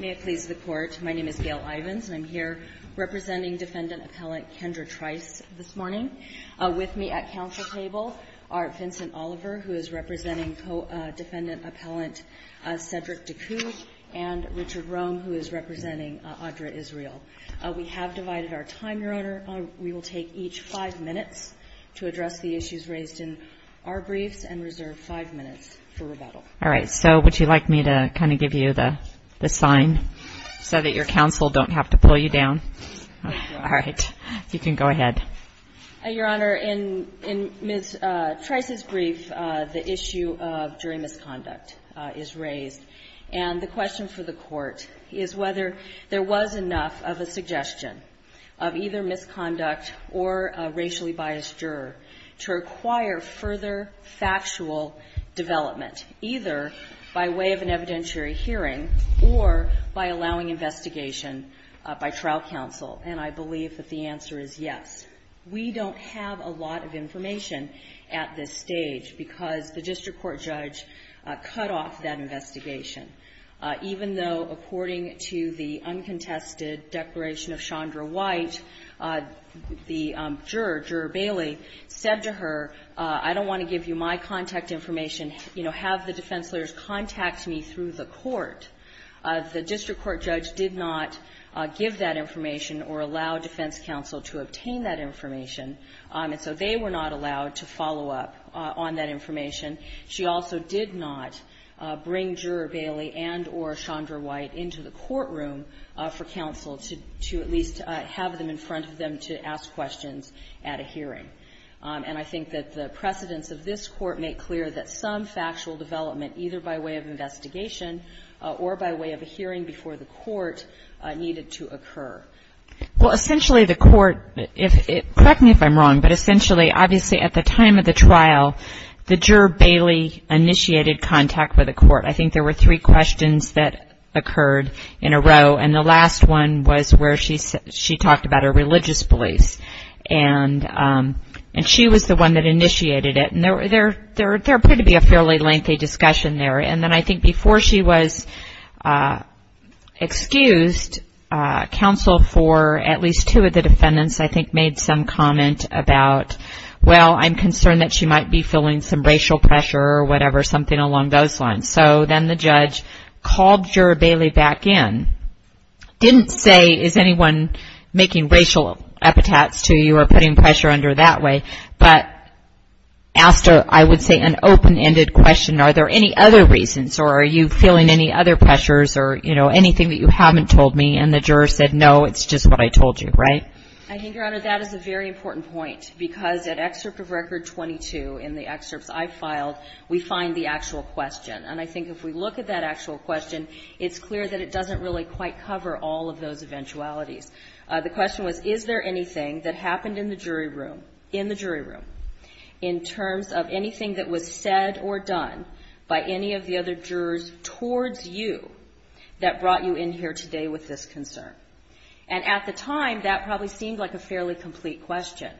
May it please the Court, my name is Gail Ivins, and I'm here representing Defendant Appellant Kendra Trice this morning. With me at Council table are Vincent Oliver, who is representing Co-Defendant Appellant Cedric DECOUD, and Richard Rome, who is representing Adra Israel. We have divided our time, Your Honor. We will take each five minutes to address the issues raised in our briefs and reserve five minutes for rebuttal. All right. So would you like me to kind of give you the sign so that your counsel don't have to pull you down? All right. You can go ahead. Your Honor, in Ms. Trice's brief, the issue of jury misconduct is raised. And the question for the Court is whether there was enough of a suggestion of either misconduct or a failure by way of an evidentiary hearing, or by allowing investigation by trial counsel. And I believe that the answer is yes. We don't have a lot of information at this stage, because the district court judge cut off that investigation, even though, according to the uncontested declaration of Chandra White, the juror, Juror Bailey, said to her, I don't want to give you my contact information, you know, have the defense lawyers contact me through the court. The district court judge did not give that information or allow defense counsel to obtain that information. And so they were not allowed to follow up on that information. She also did not bring Juror Bailey and or Chandra White into the courtroom for counsel to at least have them in front of them to ask questions at a hearing. And I think that the precedents of this Court make clear that some factual development, either by way of investigation or by way of a hearing before the Court, needed to occur. Well, essentially, the Court, correct me if I'm wrong, but essentially, obviously, at the time of the trial, the juror, Bailey, initiated contact with the Court. I think there were three questions that occurred in a row. And the last one was where she talked about her religious beliefs. And she was the one that initiated it. And there appeared to be a fairly lengthy discussion there. And then I think before she was excused, counsel for at least two of the defendants, I think, made some comment about, well, I'm concerned that she might be feeling some racial pressure or whatever, something along those lines. So then the judge called Juror Bailey back in, didn't say, is anyone making racial epitaphs to you or putting pressure under that way? But asked, I would say, an open-ended question. Are there any other reasons? Or are you feeling any other pressures or, you know, anything that you haven't told me? And the juror said, no, it's just what I told you, right? I think, Your Honor, that is a very important point. Because at Excerpt of Record 22, in the excerpts I filed, we find the actual question. And I think if we look at that actual question, it's clear that it doesn't really quite cover all of those eventualities. The question was, is there anything that happened in the jury room, in the jury room, in terms of anything that was said or done by any of the other jurors towards you that brought you in here today with this concern? And at the time, that probably seemed like a fairly complete question.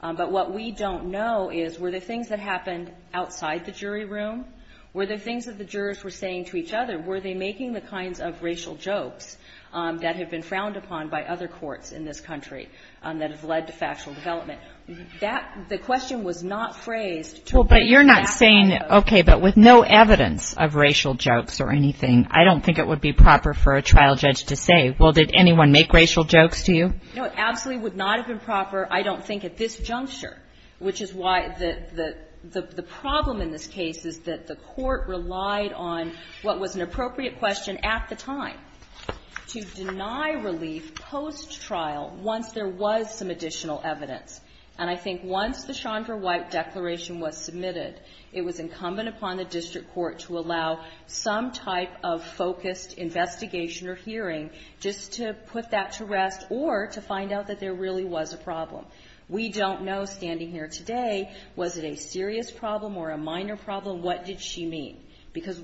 But what we don't know is, were there things that happened outside the jury room? Were there things that the jurors were saying to each other? Were they making the kinds of racial jokes that have been frowned upon by other courts in this country that have led to factual development? That, the question was not phrased to a very exact level. Well, but you're not saying, okay, but with no evidence of racial jokes or anything, I don't think it would be proper for a trial judge to say, well, did anyone make racial jokes to you? No, it absolutely would not have been proper, I don't think, at this juncture. Which is why the problem in this case is that the court relied on what was an appropriate question at the time, to deny relief post-trial, once there was some additional evidence. And I think once the Chandra White declaration was submitted, it was incumbent upon the district court to allow some type of focused investigation or hearing, just to put that to rest, or to find out that there really was a problem. We don't know, standing here today, was it a serious problem or a minor problem? What did she mean? Because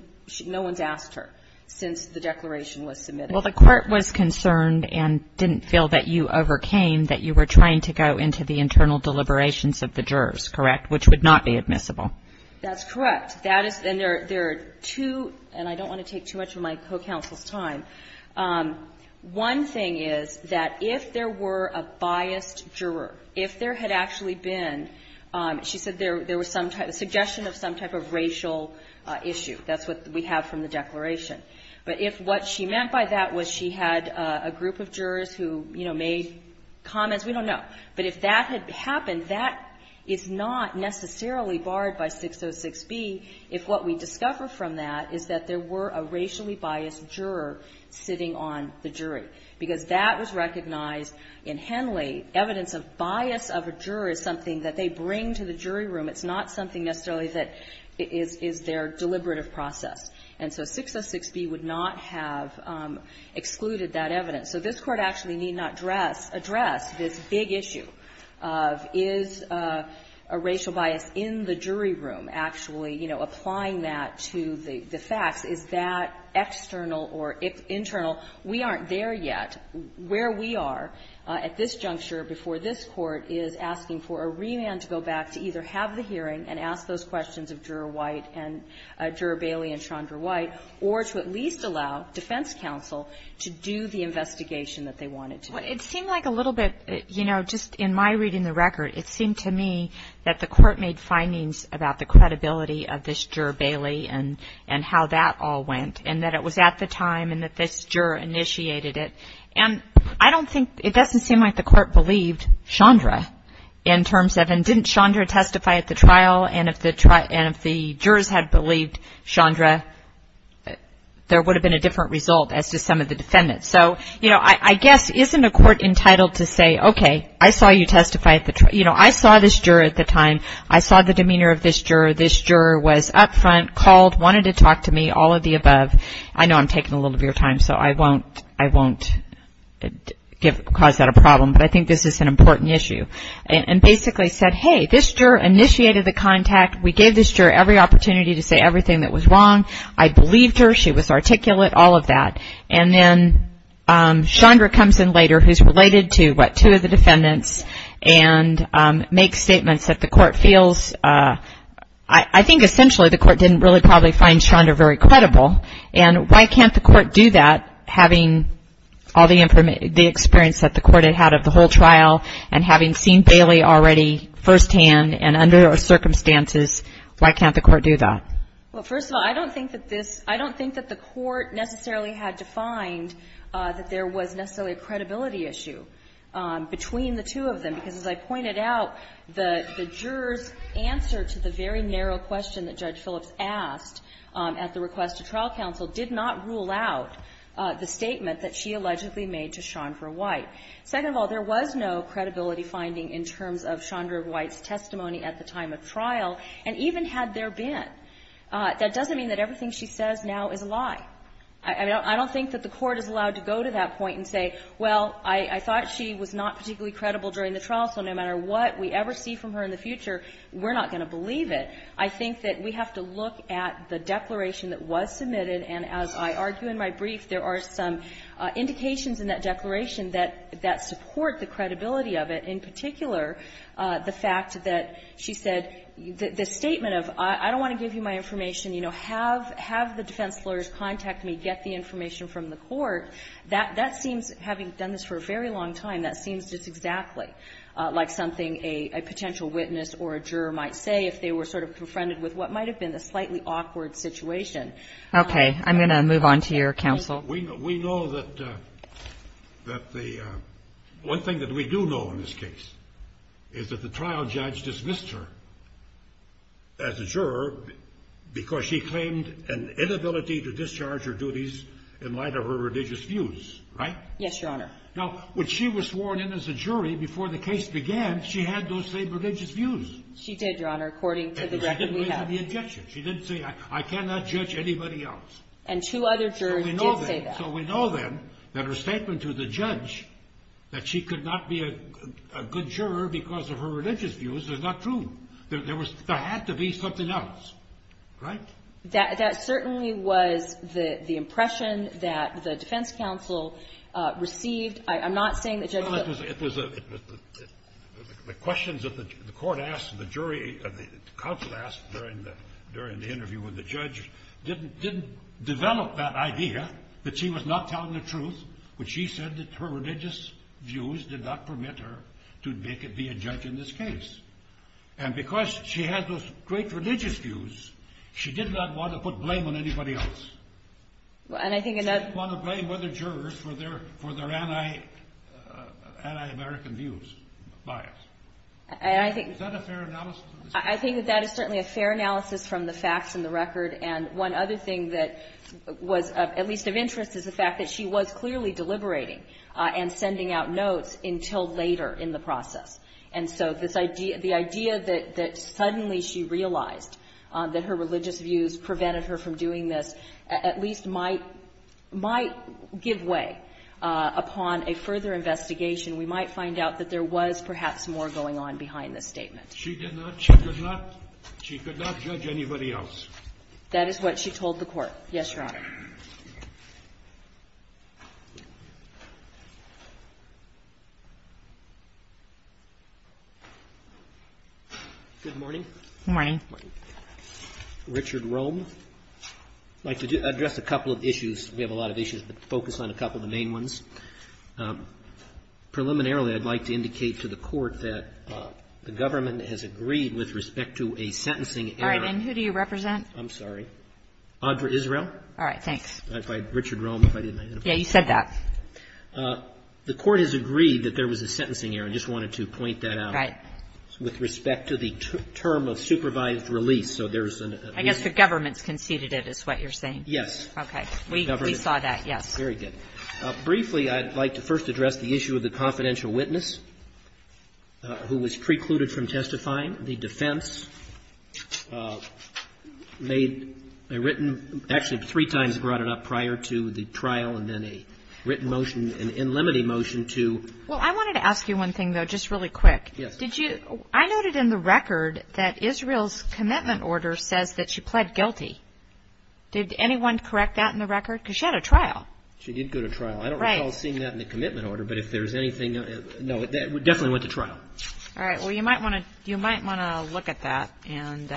no one's asked her since the declaration was submitted. Well, the court was concerned and didn't feel that you overcame, that you were trying to go into the internal deliberations of the jurors, correct, which would not be admissible. That's correct. That is the near to, and I don't want to take too much of my co-counsel's time. One thing is that if there were a biased juror, if there had actually been, she said there was some type of suggestion of some type of racial issue. That's what we have from the declaration. But if what she meant by that was she had a group of jurors who, you know, made comments, we don't know. But if that had happened, that is not necessarily barred by 606B if what we discover from that is that there were a racially biased juror sitting on the jury. Because that was recognized in Henley, evidence of bias of a juror is something that they bring to the jury room. It's not something necessarily that is their deliberative process. And so 606B would not have excluded that evidence. So this Court actually need not address this big issue of is a racial bias in the jury room actually, you know, applying that to the facts. Is that external or internal? We aren't there yet. Where we are at this juncture before this Court is asking for a remand to go back to either have the hearing and ask those questions of Juror White and Juror Bailey and Chandra White, or to at least allow defense counsel to do the investigation that they wanted to do. Well, it seemed like a little bit, you know, just in my reading the record, it seemed to me that the Court made findings about the credibility of this Juror Bailey and how that all went and that it was at the time and that this Juror initiated it. And I don't think, it doesn't seem like the Court believed Chandra in terms of, and didn't Chandra testify at the trial? And if the jurors had believed Chandra, there would have been a different result as to some of the defendants. So, you know, I guess isn't a court entitled to say, okay, I saw you testify at the trial, you know, I saw this Juror at the time, I saw the demeanor of this Juror, he wanted to talk to me, all of the above. I know I'm taking a little bit of your time, so I won't cause that a problem, but I think this is an important issue. And basically said, hey, this Juror initiated the contact, we gave this Juror every opportunity to say everything that was wrong. I believed her, she was articulate, all of that. And then Chandra comes in later, who's related to, what, two of the defendants, and makes statements that the Court feels, I think essentially the Court didn't really find Chandra very credible. And why can't the Court do that, having all the experience that the Court had had of the whole trial, and having seen Bailey already firsthand, and under those circumstances, why can't the Court do that? Well, first of all, I don't think that this, I don't think that the Court necessarily had to find that there was necessarily a credibility issue between the two of them. Because as I pointed out, the Juror's answer to the very narrow question that Judge West asked at the request of trial counsel did not rule out the statement that she allegedly made to Chandra White. Second of all, there was no credibility finding in terms of Chandra White's testimony at the time of trial, and even had there been, that doesn't mean that everything she says now is a lie. I don't think that the Court is allowed to go to that point and say, well, I thought she was not particularly credible during the trial, so no matter what we ever see from her in the future, we're not going to believe it. I think that we have to look at the declaration that was submitted, and as I argue in my brief, there are some indications in that declaration that support the credibility of it, in particular, the fact that she said the statement of, I don't want to give you my information, you know, have the defense lawyers contact me, get the information from the Court, that seems, having done this for a very long time, that seems just to me to be a little bit of a misrepresentation of what might have been a little bit of a misrepresentation of what might have been a slightly awkward situation. Okay, I'm going to move on to your counsel. We know that the, one thing that we do know in this case is that the trial judge dismissed her as a juror because she claimed an inability to discharge her duties in light of her religious views, right? Yes, Your Honor. Now, when she was sworn in as a jury before the case began, she had those same religious views. She did, Your Honor, according to the record we have. And she didn't raise any objections. She didn't say, I cannot judge anybody else. And two other jurors did say that. So we know then that her statement to the judge that she could not be a good juror because of her religious views is not true. There had to be something else, right? That certainly was the impression that the defense counsel received. I'm not saying that Judge Hill was. Well, it was a, the questions that the court asked, the jury, the counsel asked during the interview with the judge didn't develop that idea that she was not telling the truth when she said that her religious views did not permit her to be a judge in this case. And because she had those great religious views, she did not want to put blame on anybody else. She didn't want to blame other jurors for their anti-American views, bias. I think that is certainly a fair analysis from the facts in the record. And one other thing that was at least of interest is the fact that she was clearly deliberating and sending out notes until later in the process. And so this idea, the idea that suddenly she realized that her religious views prevented her from doing this at least might, might give way upon a further investigation. We might find out that there was perhaps more going on behind this statement. She did not, she could not, she could not judge anybody else. That is what she told the court. Yes, Your Honor. Good morning. Good morning. Richard Rome. I'd like to address a couple of issues. We have a lot of issues, but focus on a couple of the main ones. Preliminarily, I'd like to indicate to the court that the government has agreed with respect to a sentencing error. All right. And who do you represent? I'm sorry. Audra Israel. All right. Thanks. Richard Rome, if I didn't identify. Yeah, you said that. The court has agreed that there was a sentencing error. I just wanted to point that out. Right. With respect to the term of supervised release. So there's an agreement. I guess the government's conceded it is what you're saying. Yes. Okay. We saw that, yes. Very good. Briefly, I'd like to first address the issue of the confidential witness who was precluded from testifying. The defense made a written, actually three times brought it up prior to the trial, and then a written motion, an in limine motion to. Well, I wanted to ask you one thing, though, just really quick. Yes. Did you, I noted in the record that Israel's commitment order says that she pled guilty. Did anyone correct that in the record? Because she had a trial. She did go to trial. I don't recall seeing that in the commitment order, but if there's anything, no, that definitely went to trial. All right. Well, you might want to, you might want to look at that, and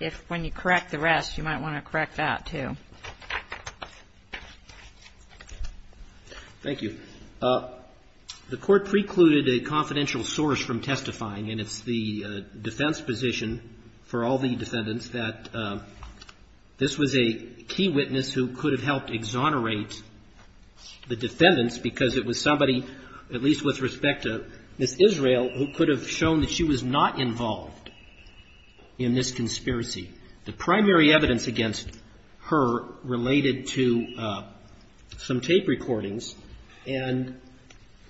if, when you correct the rest, you might want to correct that, too. Thank you. The court precluded a confidential source from testifying, and it's the defense position for all the defendants that this was a key witness who could have helped exonerate the defendants because it was somebody, at least with respect to Ms. Israel, who could have shown that she was not involved in this conspiracy. The primary evidence against her related to some tape recordings, and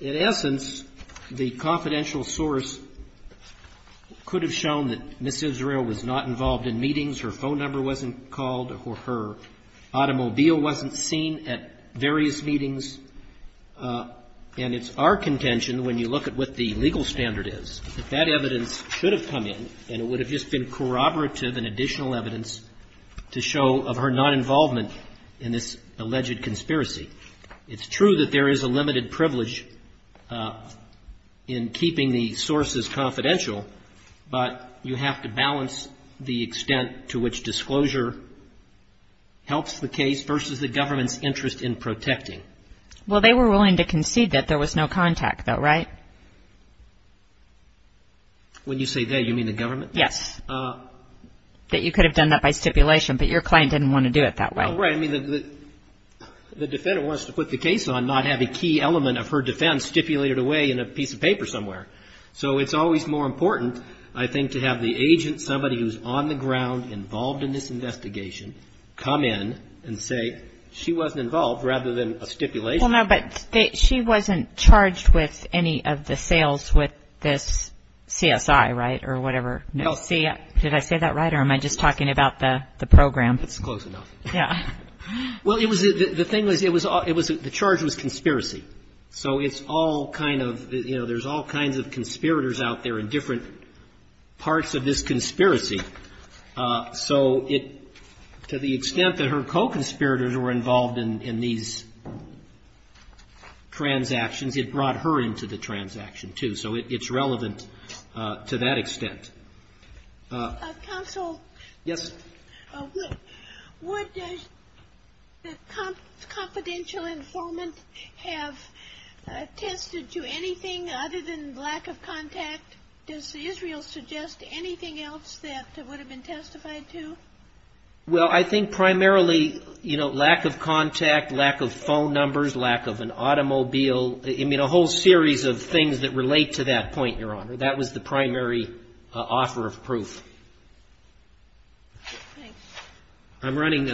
in essence, the confidential source could have shown that Ms. Israel was not involved in meetings, her phone number wasn't called, or her automobile wasn't seen at various meetings. And it's our contention, when you look at what the legal standard is, that that evidence should have come in, and it would have just been corroborative and additional evidence to show of her non-involvement in this alleged conspiracy. It's true that there is a limited privilege in keeping the sources confidential, but you have to balance the extent to which disclosure helps the case versus the government's interest in protecting. Well, they were willing to concede that there was no contact, though, right? When you say they, you mean the government? Yes. That you could have done that by stipulation, but your client didn't want to do it that way. Right. I mean, the defendant wants to put the case on, not have a key element of her defense stipulated away in a piece of paper somewhere. So it's always more important, I think, to have the agent, somebody who's on the ground, involved in this investigation, come in and say, she wasn't involved, rather than a stipulation. Well, no, but she wasn't charged with any of the sales with this CSI, right, or whatever. Did I say that right, or am I just talking about the program? It's close enough. Yeah. Well, it was, the thing was, it was, the charge was conspiracy. So it's all kind of, you know, there's all kinds of conspirators out there in different parts of this conspiracy. So it, to the extent that her co-conspirators were involved in these transactions, it brought her into the transaction, too. So it's relevant to that extent. Counsel? Yes. Would the confidential informant have attested to anything other than lack of contact? Does Israel suggest anything else that would have been testified to? Well, I think primarily, you know, lack of contact, lack of phone numbers, lack of an automobile, I mean, a whole series of things that relate to that point, Your Honor. That was the primary offer of proof. Thanks. I'm running,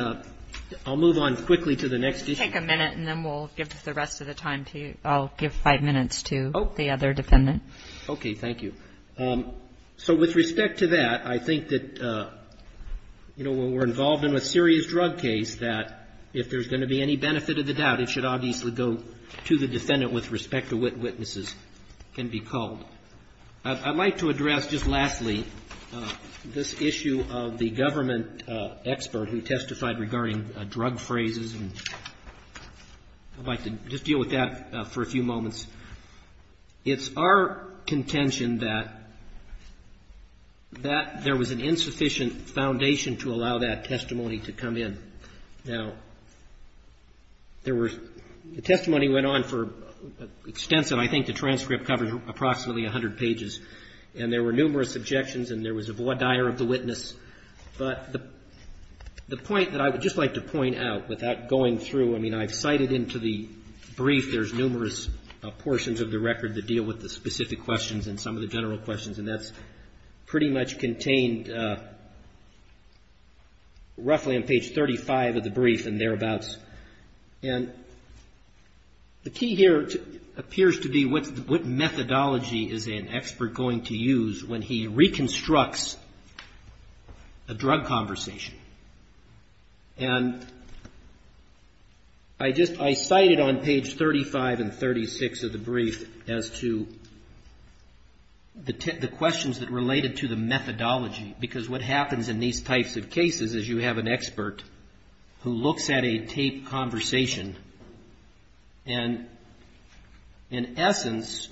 I'll move on quickly to the next issue. Take a minute, and then we'll give the rest of the time to, I'll give five minutes to the other defendant. Okay, thank you. So with respect to that, I think that, you know, when we're involved in a serious drug case, that if there's going to be any benefit of the doubt, it should obviously go to the defendant with respect to what witnesses can be called. I'd like to address, just lastly, this issue of the government expert who testified regarding drug phrases, and I'd like to just deal with that for a few moments. It's our contention that there was an insufficient foundation to allow that testimony to come in. Now, there were, the testimony went on for extensive, I think the transcript covered approximately 100 pages, and there were numerous objections, and there was a voir dire of the witness, but the point that I would just like to point out without going through, I mean, I've cited into the brief, there's numerous portions of the record that deal with the specific questions and some of the general questions, and that's pretty much contained roughly on page 35 of the brief and thereabouts. And the key here appears to be what methodology is an expert going to use when he reconstructs a drug conversation. And I just, I cited on page 35 and 36 of the brief as to the questions that related to the methodology, because what happens in these types of cases is you have an expert who looks at a tape conversation, and in essence...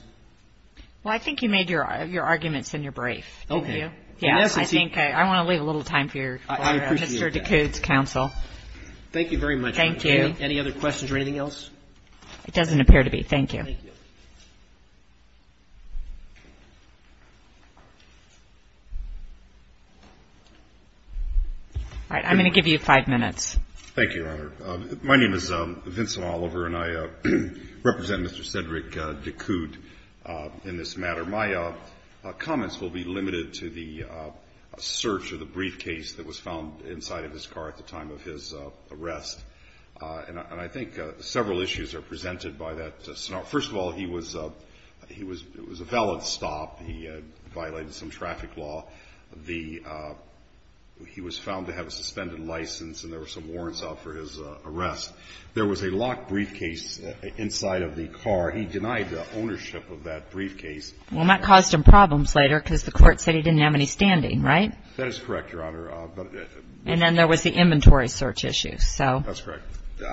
Well, I think you made your arguments in your brief, didn't you? Okay. Yes, I think I want to leave a little time for your question, Mr. DeCute's counsel. Thank you very much. Thank you. Any other questions or anything else? It doesn't appear to be. Thank you. Thank you. All right. I'm going to give you five minutes. Thank you, Your Honor. My name is Vincent Oliver, and I represent Mr. Cedric DeCute in this matter. My comments will be limited to the search of the briefcase that was found inside of his car at the time of his arrest. And I think several issues are presented by that scenario. First of all, he was, it was a valid stop. He had violated some traffic law. The, he was found to have a suspended license, and there were some warrants out for his arrest. There was a locked briefcase inside of the car. He denied the ownership of that briefcase. Well, that caused him problems later because the court said he didn't have any standing, right? That is correct, Your Honor. And then there was the inventory search issue, so. That's correct.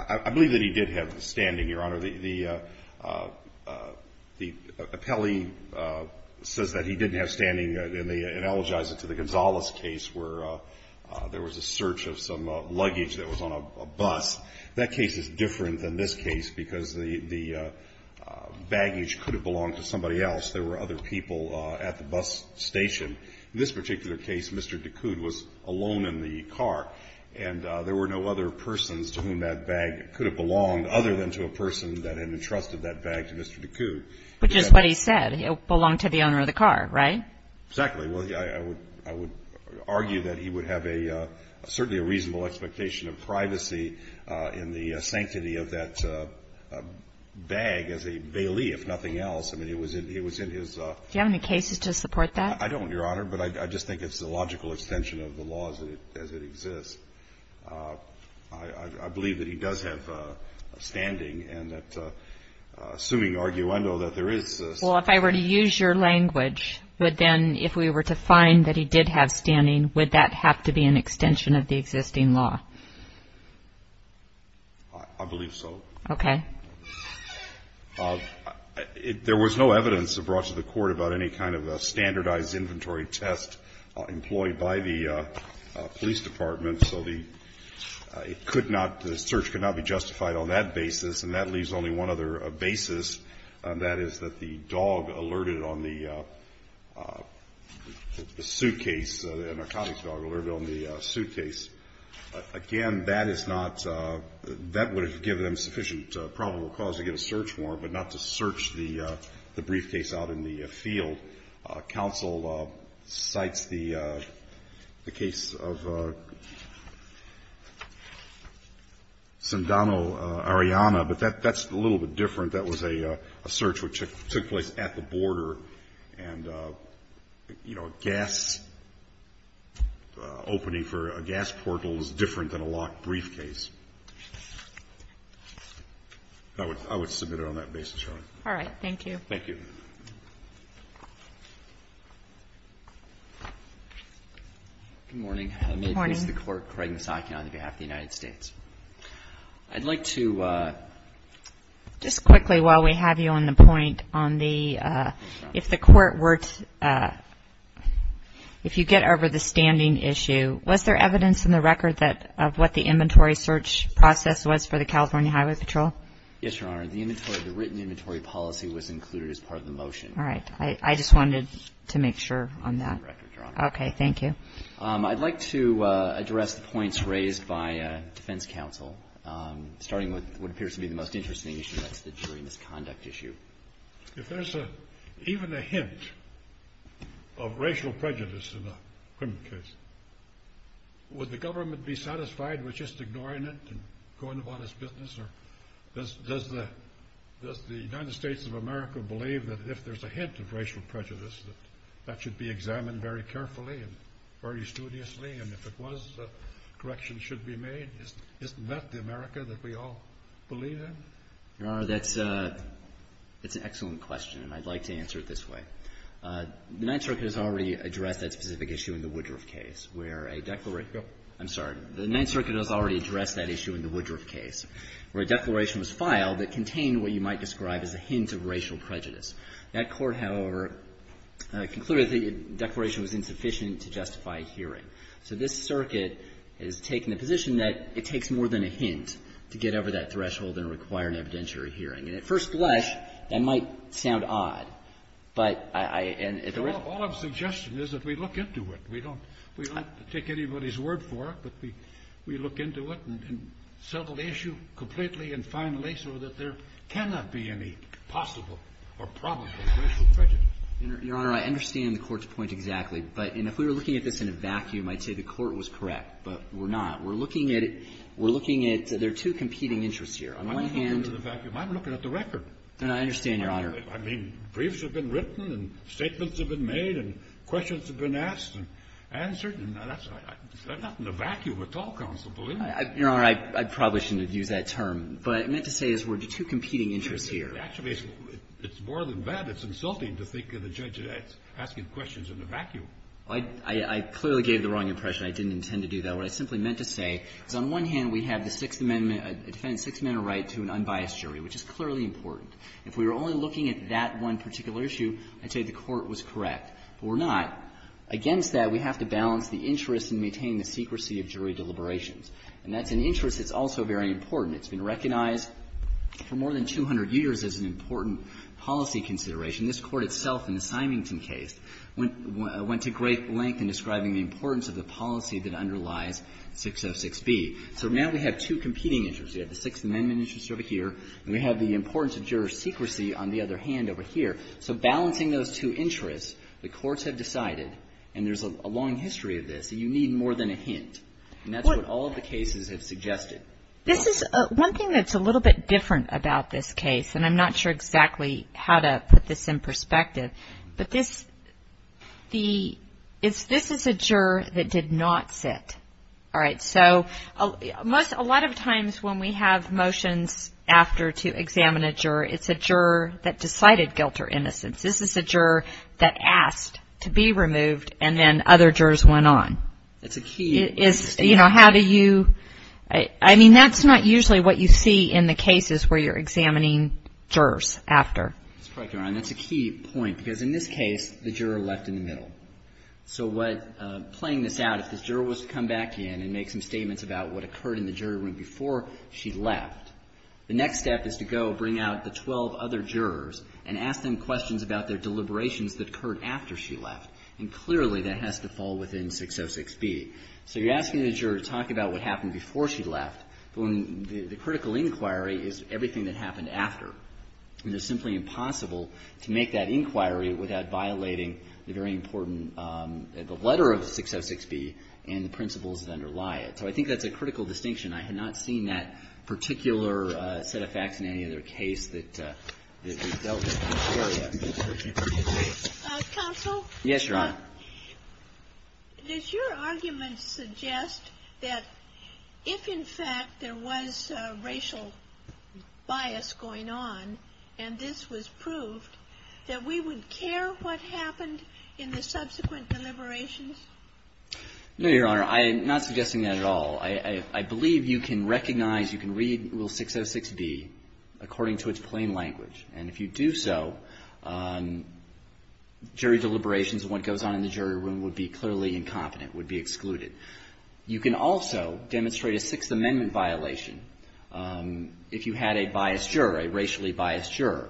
I believe that he did have the standing, Your Honor. The appellee says that he didn't have standing, and they analogize it to the Gonzales case where there was a search of some luggage that was on a bus. That case is different than this case because the baggage could have belonged to somebody else. There were other people at the bus station. In this particular case, Mr. Ducoud was alone in the car, and there were no other persons to whom that bag could have belonged other than to a person that had entrusted that bag to Mr. Ducoud. Which is what he said. It belonged to the owner of the car, right? Exactly. Well, I would argue that he would have a, certainly a reasonable expectation of privacy in the sanctity of that bag as a bailee, if nothing else. Do you have any cases to support that? I don't, Your Honor, but I just think it's a logical extension of the law as it exists. I believe that he does have standing, and that, assuming arguendo, that there is a Well, if I were to use your language, would then, if we were to find that he did have standing, would that have to be an extension of the existing law? I believe so. Okay. Well, there was no evidence brought to the court about any kind of standardized inventory test employed by the police department, so the, it could not, the search could not be justified on that basis, and that leaves only one other basis, and that is that the dog alerted on the suitcase, the narcotics dog alerted on the suitcase. Again, that is not, that would have given them sufficient probable cause to get a search warrant, but not to search the briefcase out in the field. Counsel cites the case of Sandano-Ariana, but that's a little bit different. That was a search which took place at the border, and, you know, a gas opening for a gas portal is different than a locked briefcase. I would submit it on that basis, Your Honor. All right. Thank you. Thank you. Good morning. Good morning. I'm going to place the court Craig Misaki on behalf of the United States. I'd like to... Just quickly while we have you on the point on the, if the court were to, if you get over the standing issue, was there evidence in the record that, of what the inventory search process was for the California Highway Patrol? Yes, Your Honor. The inventory, the written inventory policy was included as part of the motion. All right. I just wanted to make sure on that. Okay. Thank you. I'd like to address the points raised by defense counsel, starting with what appears to be the most interesting issue, that's the jury misconduct issue. If there's even a hint of racial prejudice in a criminal case, would the government be satisfied with just ignoring it and going about its business? Or does the United States of America believe that if there's a hint of racial prejudice that that should be examined very carefully and very studiously? And if it was, corrections should be made? Isn't that the America that we all believe in? Your Honor, that's an excellent question, and I'd like to answer it this way. The Ninth Circuit has already addressed that specific issue in the Woodruff case, where a declaration... I'm sorry. The Ninth Circuit has already addressed that issue in the Woodruff case, where a declaration was filed that contained what you might describe as a hint of racial prejudice. That court, however, concluded the declaration was insufficient to justify a hearing. So this circuit has taken the position that it takes more than a hint to get over that threshold and require an evidentiary hearing. And at first glance, that might sound odd, but I... All I'm suggesting is that we look into it. We don't take anybody's word for it, but we look into it and settle the issue completely and finally so that there cannot be any possible or probable racial prejudice. Your Honor, I understand the Court's point exactly. But if we were looking at this in a vacuum, I'd say the Court was correct, but we're not. We're looking at it... We're looking at... There are two competing interests here. On one hand... I'm not looking at the vacuum. I'm looking at the record. No, I understand, Your Honor. I mean, briefs have been written and statements have been made and questions have been asked and answered, and that's not in a vacuum at all, counsel. Believe me. Your Honor, I probably shouldn't have used that term, but what I meant to say is there are two competing interests here. Actually, it's more than that. It's insulting to think of the judge asking questions in a vacuum. I clearly gave the wrong impression. I didn't intend to do that. What I simply meant to say is on one hand, we have the Sixth Amendment, a defendant's Sixth Amendment right to an unbiased jury, which is clearly important. If we were only looking at that one particular issue, I'd say the Court was correct, but we're not. Against that, we have to balance the interests and maintain the secrecy of jury deliberations. And that's an interest that's also very important. It's been recognized for more than 200 years as an important policy consideration. This Court itself in the Symington case went to great length in describing the importance of the policy that underlies 606B. So now we have two competing interests. We have the Sixth Amendment interest over here, and we have the importance of juror secrecy on the other hand over here. So balancing those two interests, the courts have decided, and there's a long history of this, that you need more than a hint. And that's what all of the cases have suggested. This is one thing that's a little bit different about this case, and I'm not sure exactly how to put this in perspective, but this is a juror that did not sit. All right. So a lot of times when we have motions after to examine a juror, it's a juror that decided guilt or innocence. This is a juror that asked to be removed, and then other jurors went on. That's a key statement. It's, you know, how do you, I mean, that's not usually what you see in the cases where you're examining jurors after. That's correct, Your Honor. That's a key point, because in this case, the juror left in the middle. So what, playing this out, if this juror was to come back in and make some statements about what occurred in the jury room before she left, the next step is to go bring out the 12 other jurors and ask them questions about their deliberations that occurred after she left. And clearly, that has to fall within 606B. So you're asking the juror to talk about what happened before she left, but when the critical inquiry is everything that happened after. And it's simply impossible to make that inquiry without violating the very important, the letter of 606B and the principles that underlie it. So I think that's a critical distinction. I had not seen that particular set of facts in any other case that dealt with that area. Counsel? Yes, Your Honor. Does your argument suggest that if, in fact, there was racial bias going on, and this was proved, that we would care what happened in the subsequent deliberations? No, Your Honor. I'm not suggesting that at all. I believe you can recognize, you can read Rule 606B according to its plain language. And if you do so, jury deliberations and what goes on in the jury room would be clearly incompetent, would be excluded. You can also demonstrate a Sixth Amendment violation if you had a biased juror, a racially biased juror.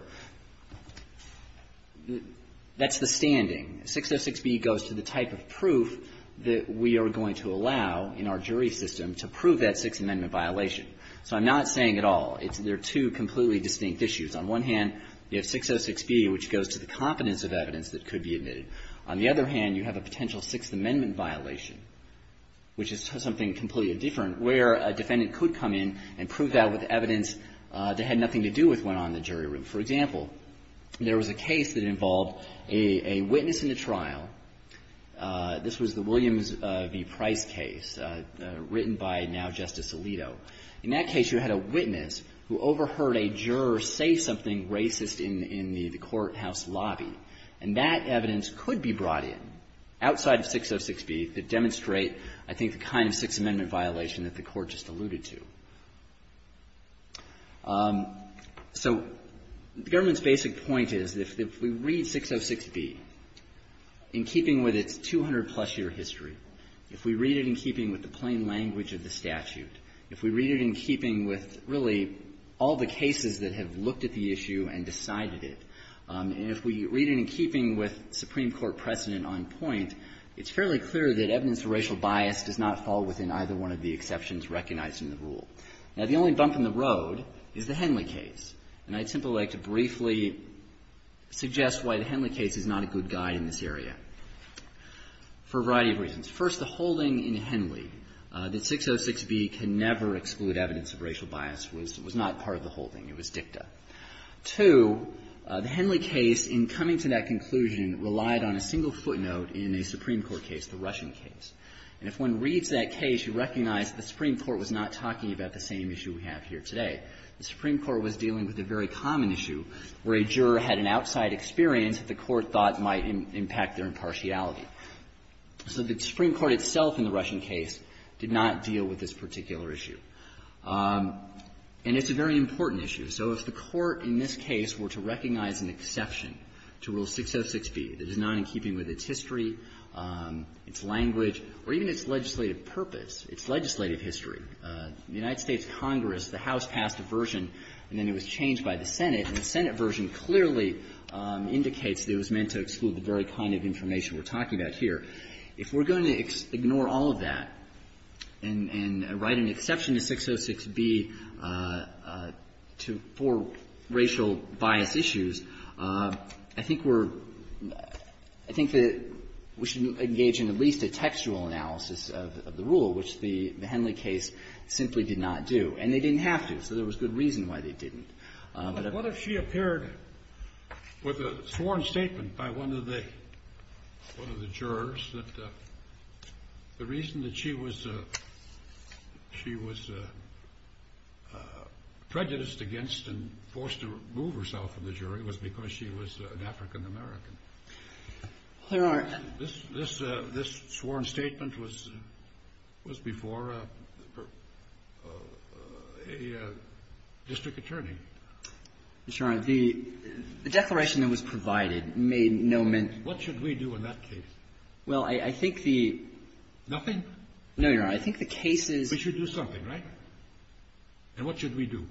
That's the standing. 606B goes to the type of proof that we are going to allow in our jury system to prove that Sixth Amendment violation. So I'm not saying at all. They're two completely distinct issues. On one hand, you have 606B, which goes to the competence of evidence that could be admitted. On the other hand, you have a potential Sixth Amendment violation, which is something completely different, where a defendant could come in and prove that with evidence that had nothing to do with what went on in the jury room. For example, there was a case that involved a witness in a trial. This was the Williams v. Price case, written by now Justice Alito. In that case, you had a witness who overheard a juror say something racist in the courthouse lobby, and that evidence could be brought in, outside of 606B, to demonstrate, I think, the kind of Sixth Amendment violation that the Court just alluded to. So the government's basic point is that if we read 606B in keeping with its 200-plus year history, if we read it in keeping with the plain language of the statute, if we read it in keeping with, really, all the cases that have looked at the issue and decided it, and if we read it in keeping with Supreme Court precedent on point, it's fairly clear that evidence of racial bias does not fall within either one of the exceptions recognized in the rule. Now, the only bump in the road is the Henley case, and I'd simply like to briefly suggest why the Henley case is not a good guide in this area, for a variety of reasons. First, the holding in Henley that 606B can never exclude evidence of racial bias was not part of the holding. It was dicta. Two, the Henley case, in coming to that conclusion, relied on a single footnote in a Supreme Court case, the Russian case. And if one reads that case, you recognize that the Supreme Court was not talking about the same issue we have here today. The Supreme Court was dealing with a very common issue where a juror had an outside experience that the Court thought might impact their impartiality. So the Supreme Court itself in the Russian case did not deal with this particular issue. And it's a very important issue. So if the Court in this case were to recognize an exception to Rule 606B that is not in keeping with its history, its language, or even its legislative purpose, its legislative history, the United States Congress, the House passed a version, and then it was changed by the Senate, and the Senate version clearly indicates that it was meant to exclude the very kind of information we're talking about here. If we're going to ignore all of that and write an exception to 606B to four racial bias issues, I think we're – I think that we should engage in at least a textual analysis of the rule, which the Henley case simply did not do. And they didn't have to, so there was good reason why they didn't. But what if she appeared with a sworn statement by one of the jurors that the reason that she was prejudiced against and forced to remove herself from the jury was because she was an African-American? There are. This sworn statement was before a district attorney. Mr. Your Honor, the declaration that was provided made no mention. What should we do in that case? Well, I think the – Nothing? No, Your Honor. I think the case is – We should do something, right? And what should we do?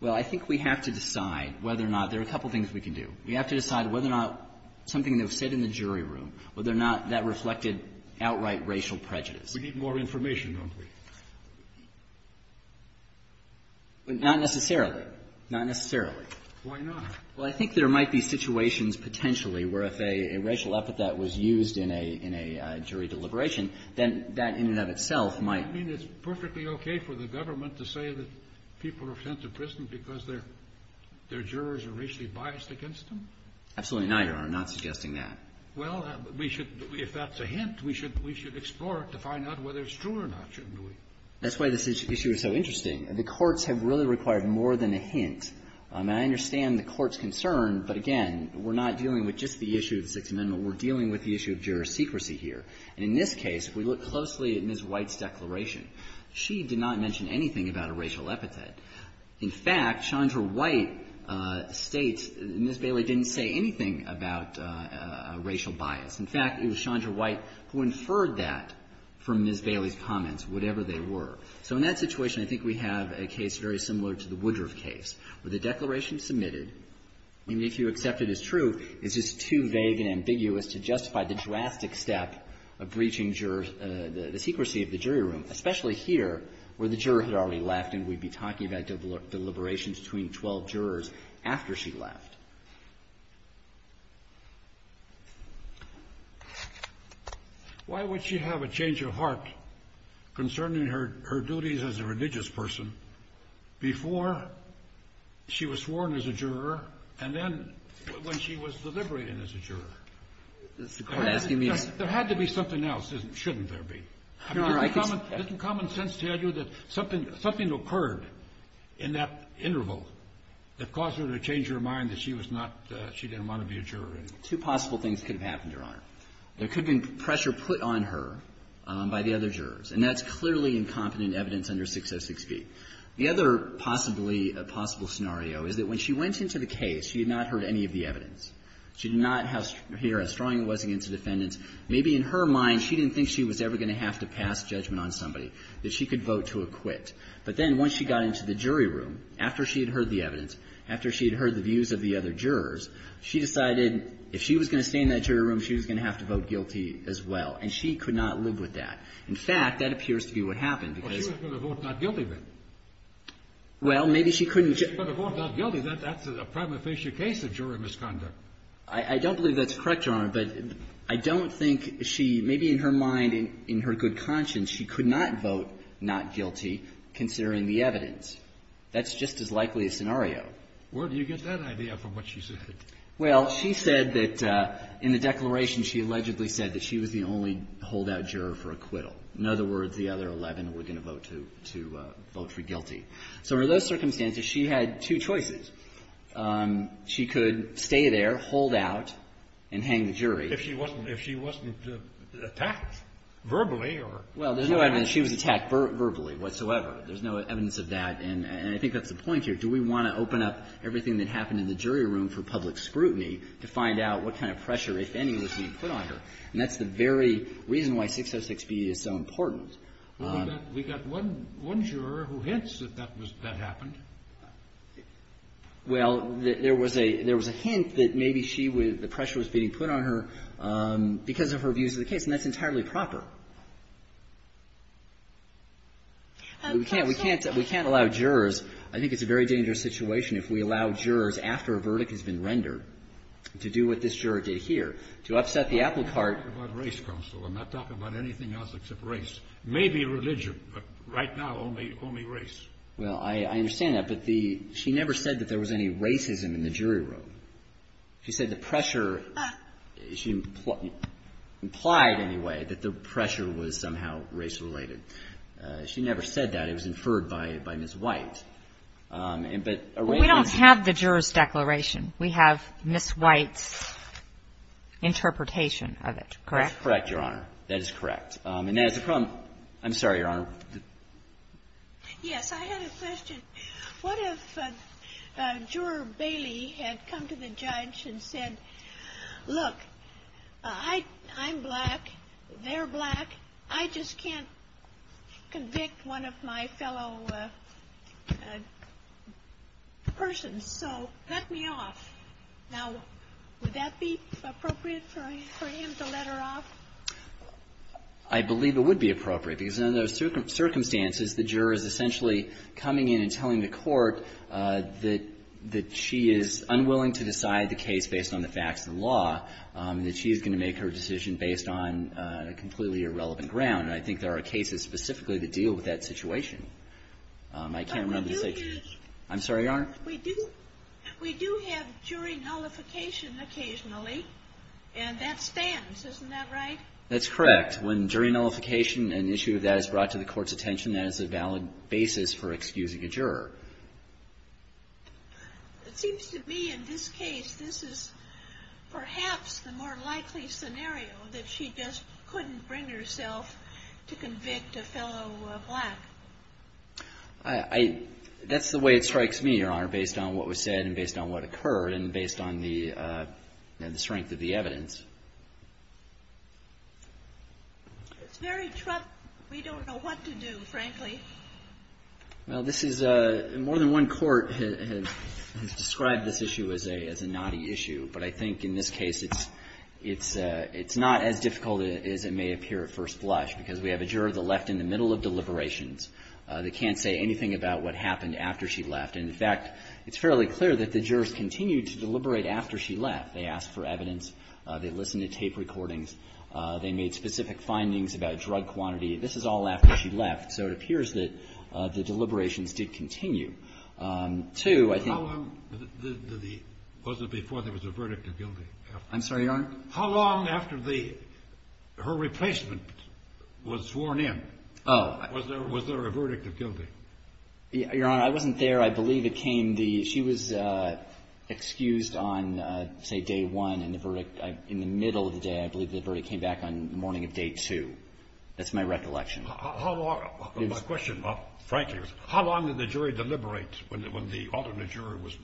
Well, I think we have to decide whether or not – there are a couple of things we can do. We have to decide whether or not something that was said in the jury room, whether or not that reflected outright racial prejudice. We need more information, don't we? Not necessarily. Not necessarily. Why not? Well, I think there might be situations potentially where if a racial epithet was used in a – in a jury deliberation, then that in and of itself might – I mean, it's perfectly okay for the government to say that people are sent to prison because their jurors are racially biased against them. Absolutely not, Your Honor. I'm not suggesting that. Well, we should – if that's a hint, we should explore it to find out whether it's true or not, shouldn't we? That's why this issue is so interesting. The courts have really required more than a hint. And I understand the court's concern, but again, we're not dealing with just the issue of the Sixth Amendment. We're dealing with the issue of juror secrecy here. And in this case, if we look closely at Ms. White's declaration, she did not mention anything about a racial epithet. In fact, Chandra White states Ms. Bailey didn't say anything about racial bias. In fact, it was Chandra White who inferred that from Ms. Bailey's comments, whatever they were. So in that situation, I think we have a case very similar to the Woodruff case, where the declaration is submitted, and if you accept it as true, it's just too vague and ambiguous to justify the drastic step of breaching jurors – the secrecy of the jury room, especially here where the juror had already left and we'd be talking about deliberations between 12 jurors after she left. Why would she have a change of heart concerning her duties as a religious person before she was sworn as a juror and then when she was deliberating as a juror? There had to be something else. Shouldn't there be? I mean, doesn't common sense tell you that something occurred in that interval that caused her to change her mind that she was not – she didn't want to be a juror anymore? Two possible things could have happened, Your Honor. There could have been pressure put on her by the other jurors, and that's clearly incompetent evidence under 606b. The other possibly – possible scenario is that when she went into the case, she had not heard any of the evidence. She did not hear how strong it was against the defendants. Maybe in her mind she didn't think she was ever going to have to pass judgment on somebody, that she could vote to acquit. But then once she got into the jury room, after she had heard the evidence, after she had heard the views of the other jurors, she decided if she was going to stay in that jury room, she was going to have to vote guilty as well. And she could not live with that. In fact, that appears to be what happened because – Well, she was going to vote not guilty then. Well, maybe she couldn't – She was going to vote not guilty. That's a prima facie case of jury misconduct. I don't believe that's correct, Your Honor. But I don't think she – maybe in her mind, in her good conscience, she could not vote not guilty considering the evidence. That's just as likely a scenario. Where do you get that idea from what she said? Well, she said that in the declaration, she allegedly said that she was the only holdout juror for acquittal. In other words, the other 11 were going to vote to vote for guilty. So under those circumstances, she had two choices. She could stay there, hold out, and hang the jury. If she wasn't – if she wasn't attacked verbally or – Well, there's no evidence she was attacked verbally whatsoever. There's no evidence of that. And I think that's the point here. Do we want to open up everything that happened in the jury room for public scrutiny to find out what kind of pressure, if any, was being put on her? And that's the very reason why 606B is so important. Well, we got one juror who hints that that happened. Well, there was a hint that maybe she was – the pressure was being put on her because of her views of the case. And that's entirely proper. We can't allow jurors – I think it's a very dangerous situation if we allow jurors after a verdict has been rendered to do what this juror did here, to upset the apple cart. I'm not talking about race, Counsel. Maybe religion. But right now, only race. Well, I understand that. But the – she never said that there was any racism in the jury room. She said the pressure – she implied, anyway, that the pressure was somehow race-related. She never said that. It was inferred by Ms. White. But – We don't have the juror's declaration. We have Ms. White's interpretation of it, correct? That's correct, Your Honor. That is correct. And as a – I'm sorry, Your Honor. Yes. I had a question. What if Juror Bailey had come to the judge and said, look, I'm black. They're black. I just can't convict one of my fellow persons. So let me off. Now, would that be appropriate for him to let her off? I believe it would be appropriate, because under those circumstances, the juror is essentially coming in and telling the court that she is unwilling to decide the case based on the facts of the law, that she is going to make her decision based on a completely irrelevant ground. And I think there are cases specifically that deal with that situation. I can't remember the situation. I'm sorry, Your Honor. We do have jury nullification occasionally, and that stands. Isn't that right? That's correct. When jury nullification, an issue that is brought to the court's attention, that is a valid basis for excusing a juror. It seems to me in this case, this is perhaps the more likely scenario, that she just couldn't bring herself to convict a fellow black. That's the way it strikes me, Your Honor, based on what was said and based on what occurred and based on the strength of the evidence. It's very troubling. We don't know what to do, frankly. Well, this is a – more than one court has described this issue as a knotty issue. But I think in this case, it's not as difficult as it may appear at first blush, because we have a juror that left in the middle of deliberations. They can't say anything about what happened after she left. And, in fact, it's fairly clear that the jurors continued to deliberate after she left. They asked for evidence. They listened to tape recordings. They made specific findings about drug quantity. This is all after she left. So it appears that the deliberations did continue. Two, I think – How long was it before there was a verdict of guilty? I'm sorry, Your Honor? How long after the – her replacement was sworn in was there a verdict of guilty? Your Honor, I wasn't there. I believe it came the – she was excused on, say, day one. And the verdict – in the middle of the day, I believe the verdict came back on the morning of day two. That's my recollection. How long – my question, frankly, was how long did the jury deliberate when the alternate jury was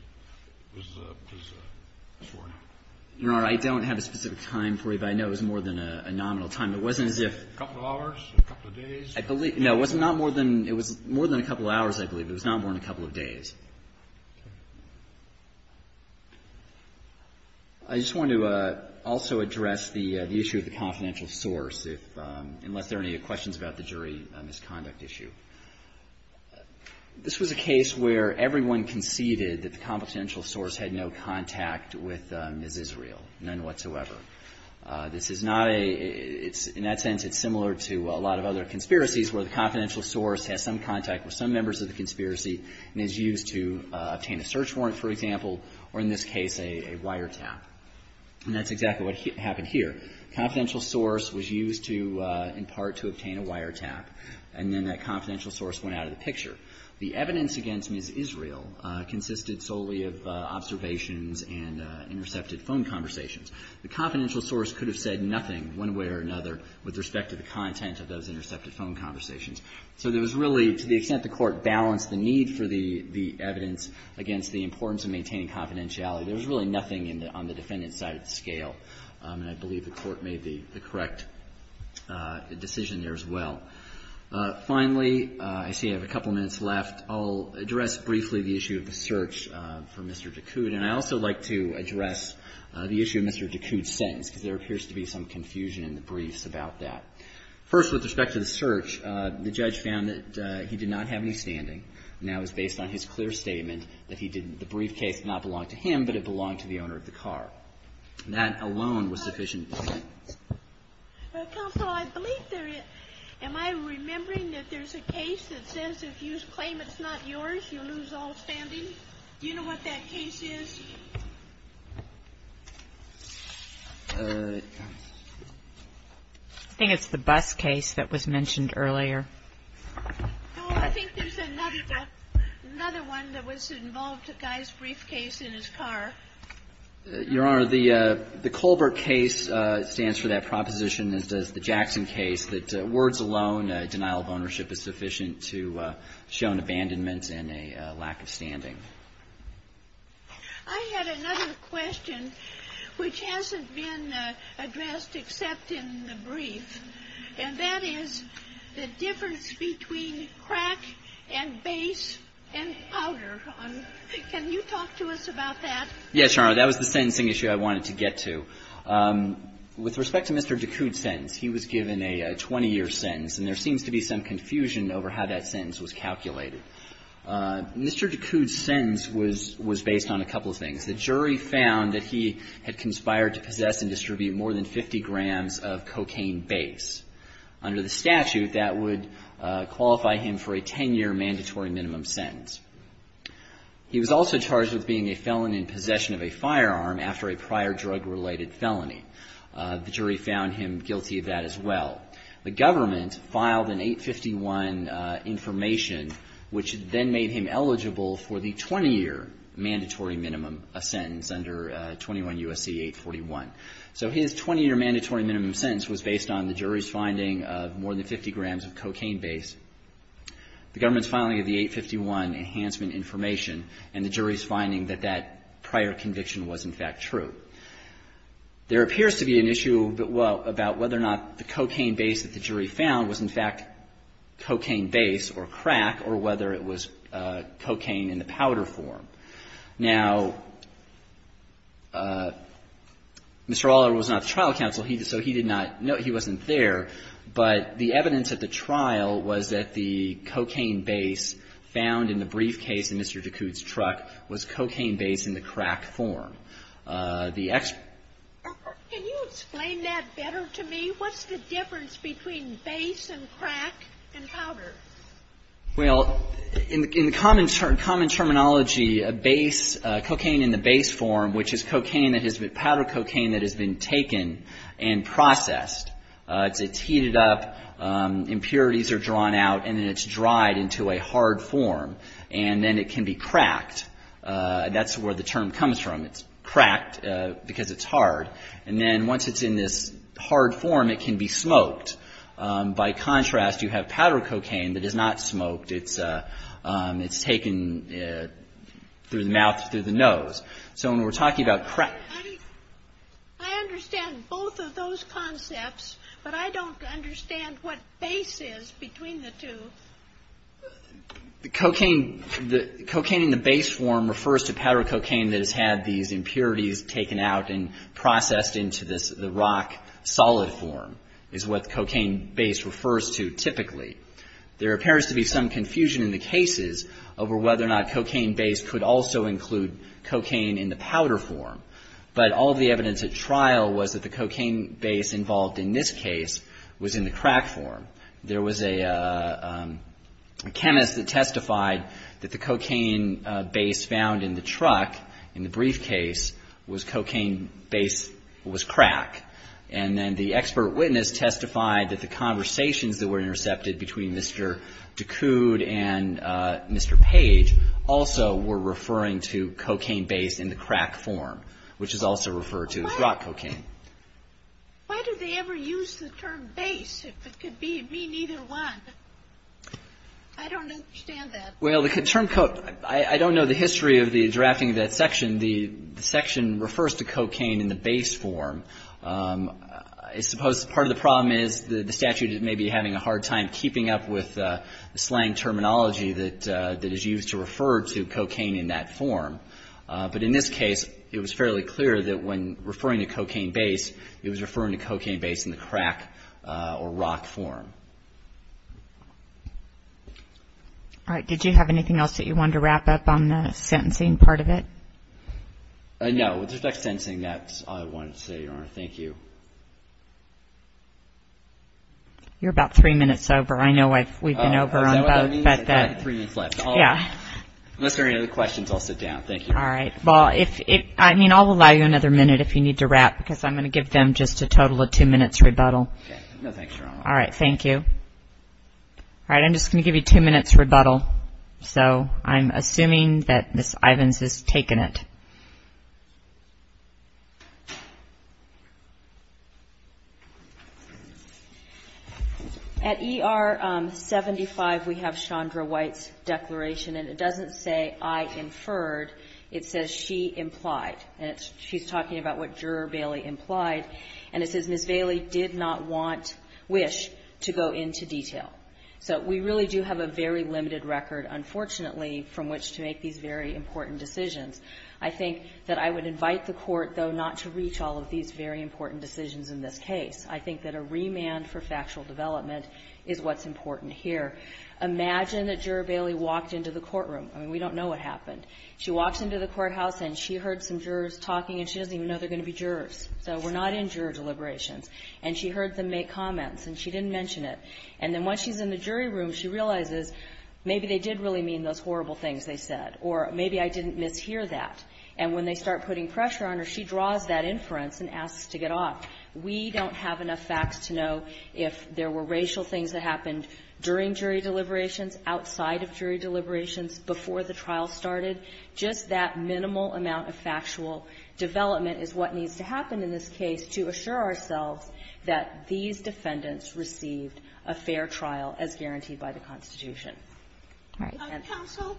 sworn in? Your Honor, I don't have a specific time for you, but I know it was more than a nominal time. It wasn't as if – A couple of hours? A couple of days? I believe – no, it was not more than – it was more than a couple of hours, I believe. It was not more than a couple of days. I just wanted to also address the issue of the confidential source, unless there are any questions about the jury misconduct issue. This was a case where everyone conceded that the confidential source had no contact with Ms. Israel, none whatsoever. This is not a – in that sense, it's similar to a lot of other conspiracies where the confidential source has some contact with some members of the conspiracy and is used to obtain a search warrant, for example, or in this case, a wiretap. And that's exactly what happened here. Confidential source was used to, in part, to obtain a wiretap. And then that confidential source went out of the picture. The evidence against Ms. Israel consisted solely of observations and intercepted phone conversations. The confidential source could have said nothing one way or another with respect to the content of those intercepted phone conversations. So there was really, to the extent the court balanced the need for the evidence against the importance of maintaining confidentiality, there was really nothing on the defendant's side of the scale. And I believe the court made the correct decision there as well. Finally, I see I have a couple of minutes left. I'll address briefly the issue of the search for Mr. Ducoud. And I'd also like to address the issue of Mr. Ducoud's sentence, because there appears to be some confusion in the briefs about that. First, with respect to the search, the judge found that he did not have any standing. And that was based on his clear statement that the briefcase did not belong to him, but it belonged to the owner of the car. And that alone was sufficient evidence. Well, counsel, I believe there is. Am I remembering that there's a case that says if you claim it's not yours, you lose all standing? Do you know what that case is? I think it's the bus case that was mentioned earlier. No, I think there's another one that was involved, a guy's briefcase in his car. Your Honor, the Colbert case stands for that proposition as does the Jackson case, that words alone, denial of ownership is sufficient to show an abandonment and a lack of standing. I had another question which hasn't been addressed except in the brief, and that is the difference between crack and base and powder. Can you talk to us about that? Yes, Your Honor. That was the sentencing issue I wanted to get to. With respect to Mr. Ducoud's sentence, he was given a 20-year sentence, and there seems to be some confusion over how that sentence was calculated. Mr. Ducoud's sentence was based on a couple of things. The jury found that he had conspired to possess and distribute more than 50 grams of cocaine base. Under the statute, that would qualify him for a 10-year mandatory minimum sentence. He was also charged with being a felon in possession of a firearm after a prior drug-related felony. The jury found him guilty of that as well. The government filed an 851 information which then made him eligible for the 20-year mandatory minimum sentence under 21 U.S.C. 841. So his 20-year mandatory minimum sentence was based on the jury's finding of more than 50 grams of cocaine base. The government's filing of the 851 enhancement information and the jury's finding that that prior conviction was, in fact, true. There appears to be an issue about whether or not the cocaine base that the jury found was, in fact, cocaine base or crack or whether it was cocaine in the powder form. Now, Mr. Allard was not the trial counsel, so he did not know. He wasn't there. But the evidence at the trial was that the cocaine base found in the briefcase in Mr. Ducoud's truck was cocaine base in the crack form. The expert ---- Can you explain that better to me? What's the difference between base and crack and powder? Well, in common terminology, a base ---- cocaine in the base form, which is cocaine that has been ---- powder cocaine that has been taken and processed, it's heated up, impurities are drawn out, and then it's dried into a hard form. And then it can be cracked. That's where the term comes from. It's cracked because it's hard. And then once it's in this hard form, it can be smoked. By contrast, you have powder cocaine that is not smoked. It's taken through the mouth, through the nose. So when we're talking about crack ---- I understand both of those concepts, but I don't understand what base is between the two. Cocaine in the base form refers to powder cocaine that has had these impurities taken out and processed into this rock solid form is what cocaine base refers to typically. There appears to be some confusion in the cases over whether or not cocaine base could also include cocaine in the powder form. But all the evidence at trial was that the cocaine base involved in this case was in the crack form. There was a chemist that testified that the cocaine base found in the truck in the briefcase was cocaine base was crack. And then the expert witness testified that the conversations that were intercepted between Mr. Ducoud and Mr. Page also were referring to cocaine base in the crack form, which is also referred to as rock cocaine. Why do they ever use the term base if it could mean either one? I don't understand that. Well, the term ---- I don't know the history of the drafting of that section. The section refers to cocaine in the base form. I suppose part of the problem is the statute may be having a hard time keeping up with slang terminology that is used to refer to cocaine in that form. But in this case, it was fairly clear that when referring to cocaine base, it was referring to cocaine base in the crack or rock form. All right. Did you have anything else that you wanted to wrap up on the sentencing part of it? No. With respect to sentencing, that's all I wanted to say, Your Honor. Thank you. You're about three minutes over. I know we've been over on both. Is that what that means? I've got three minutes left. Yeah. Unless there are any other questions, I'll sit down. Thank you. All right. Well, I mean, I'll allow you another minute if you need to wrap because I'm going to give them just a total of two minutes rebuttal. Okay. No, thanks, Your Honor. All right. Thank you. All right. I'm just going to give you two minutes rebuttal. So I'm assuming that Ms. Ivins has taken it. At ER 75, we have Chandra White's declaration, and it doesn't say I inferred. It says she implied. And she's talking about what Juror Bailey implied. And it says Ms. Bailey did not want, wish to go into detail. So we really do have a very limited record, unfortunately, from which to make these very important decisions. I think that I would invite the Court, though, not to reach all of these very important decisions in this case. I think that a remand for factual development is what's important here. Imagine that Juror Bailey walked into the courtroom. I mean, we don't know what happened. She walks into the courthouse, and she heard some jurors talking, and she doesn't even know they're going to be jurors. So we're not in juror deliberations. And she heard them make comments, and she didn't mention it. And then once she's in the jury room, she realizes, maybe they did really mean those horrible things they said, or maybe I didn't mishear that. And when they start putting pressure on her, she draws that inference and asks to get off. We don't have enough facts to know if there were racial things that happened during jury deliberations, outside of jury deliberations, before the trial started. Just that minimal amount of factual development is what needs to happen in this case to assure ourselves that these defendants received a fair trial as guaranteed by the Constitution. Counsel,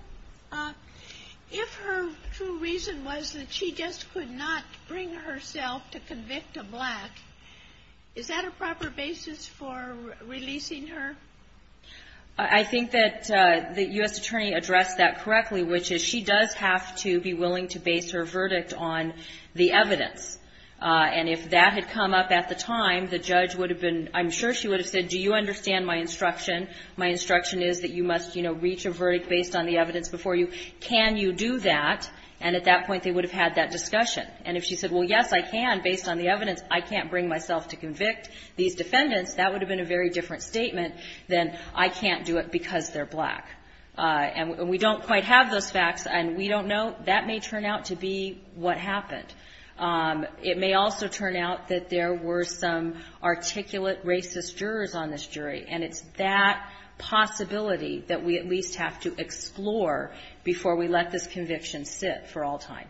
if her true reason was that she just could not bring herself to convict a black, is that a proper basis for releasing her? I think that the U.S. Attorney addressed that correctly, which is she does have to be willing to base her verdict on the evidence. And if that had come up at the time, the judge would have been ‑‑ I'm sure she would have said, do you understand my instruction? My instruction is that you must, you know, reach a verdict based on the evidence before you. Can you do that? And at that point, they would have had that discussion. And if she said, well, yes, I can, based on the evidence, I can't bring myself to convict these defendants, that would have been a very different statement than I can't do it because they're black. And we don't quite have those facts, and we don't know. That may turn out to be what happened. It may also turn out that there were some articulate racist jurors on this jury, and it's that possibility that we at least have to explore before we let this conviction sit for all time.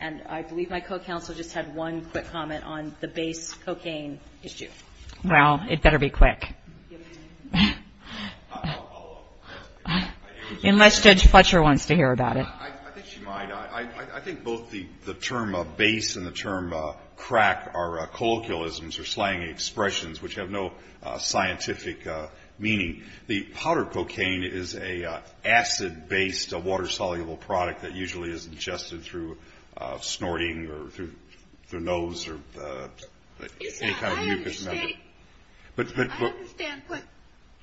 And I believe my co‑counsel just had one quick comment on the base cocaine issue. Well, it better be quick. I'll follow up. Unless Judge Fletcher wants to hear about it. I think she might. I think both the term of base and the term crack are colloquialisms or slang expressions which have no scientific meaning. The powdered cocaine is an acid-based water-soluble product that usually is ingested through snorting or through the nose or any kind of mucus method. I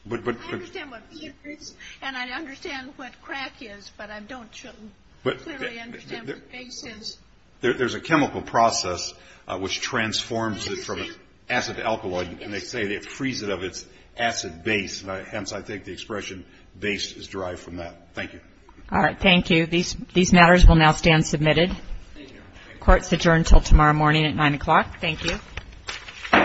understand what base is, and I understand what crack is, but I don't clearly understand what base is. There's a chemical process which transforms it from an acid to alkaloid, and they say it frees it of its acid base. Hence, I think the expression base is derived from that. Thank you. All right. Thank you. These matters will now stand submitted. Court's adjourned until tomorrow morning at 9 o'clock. Thank you.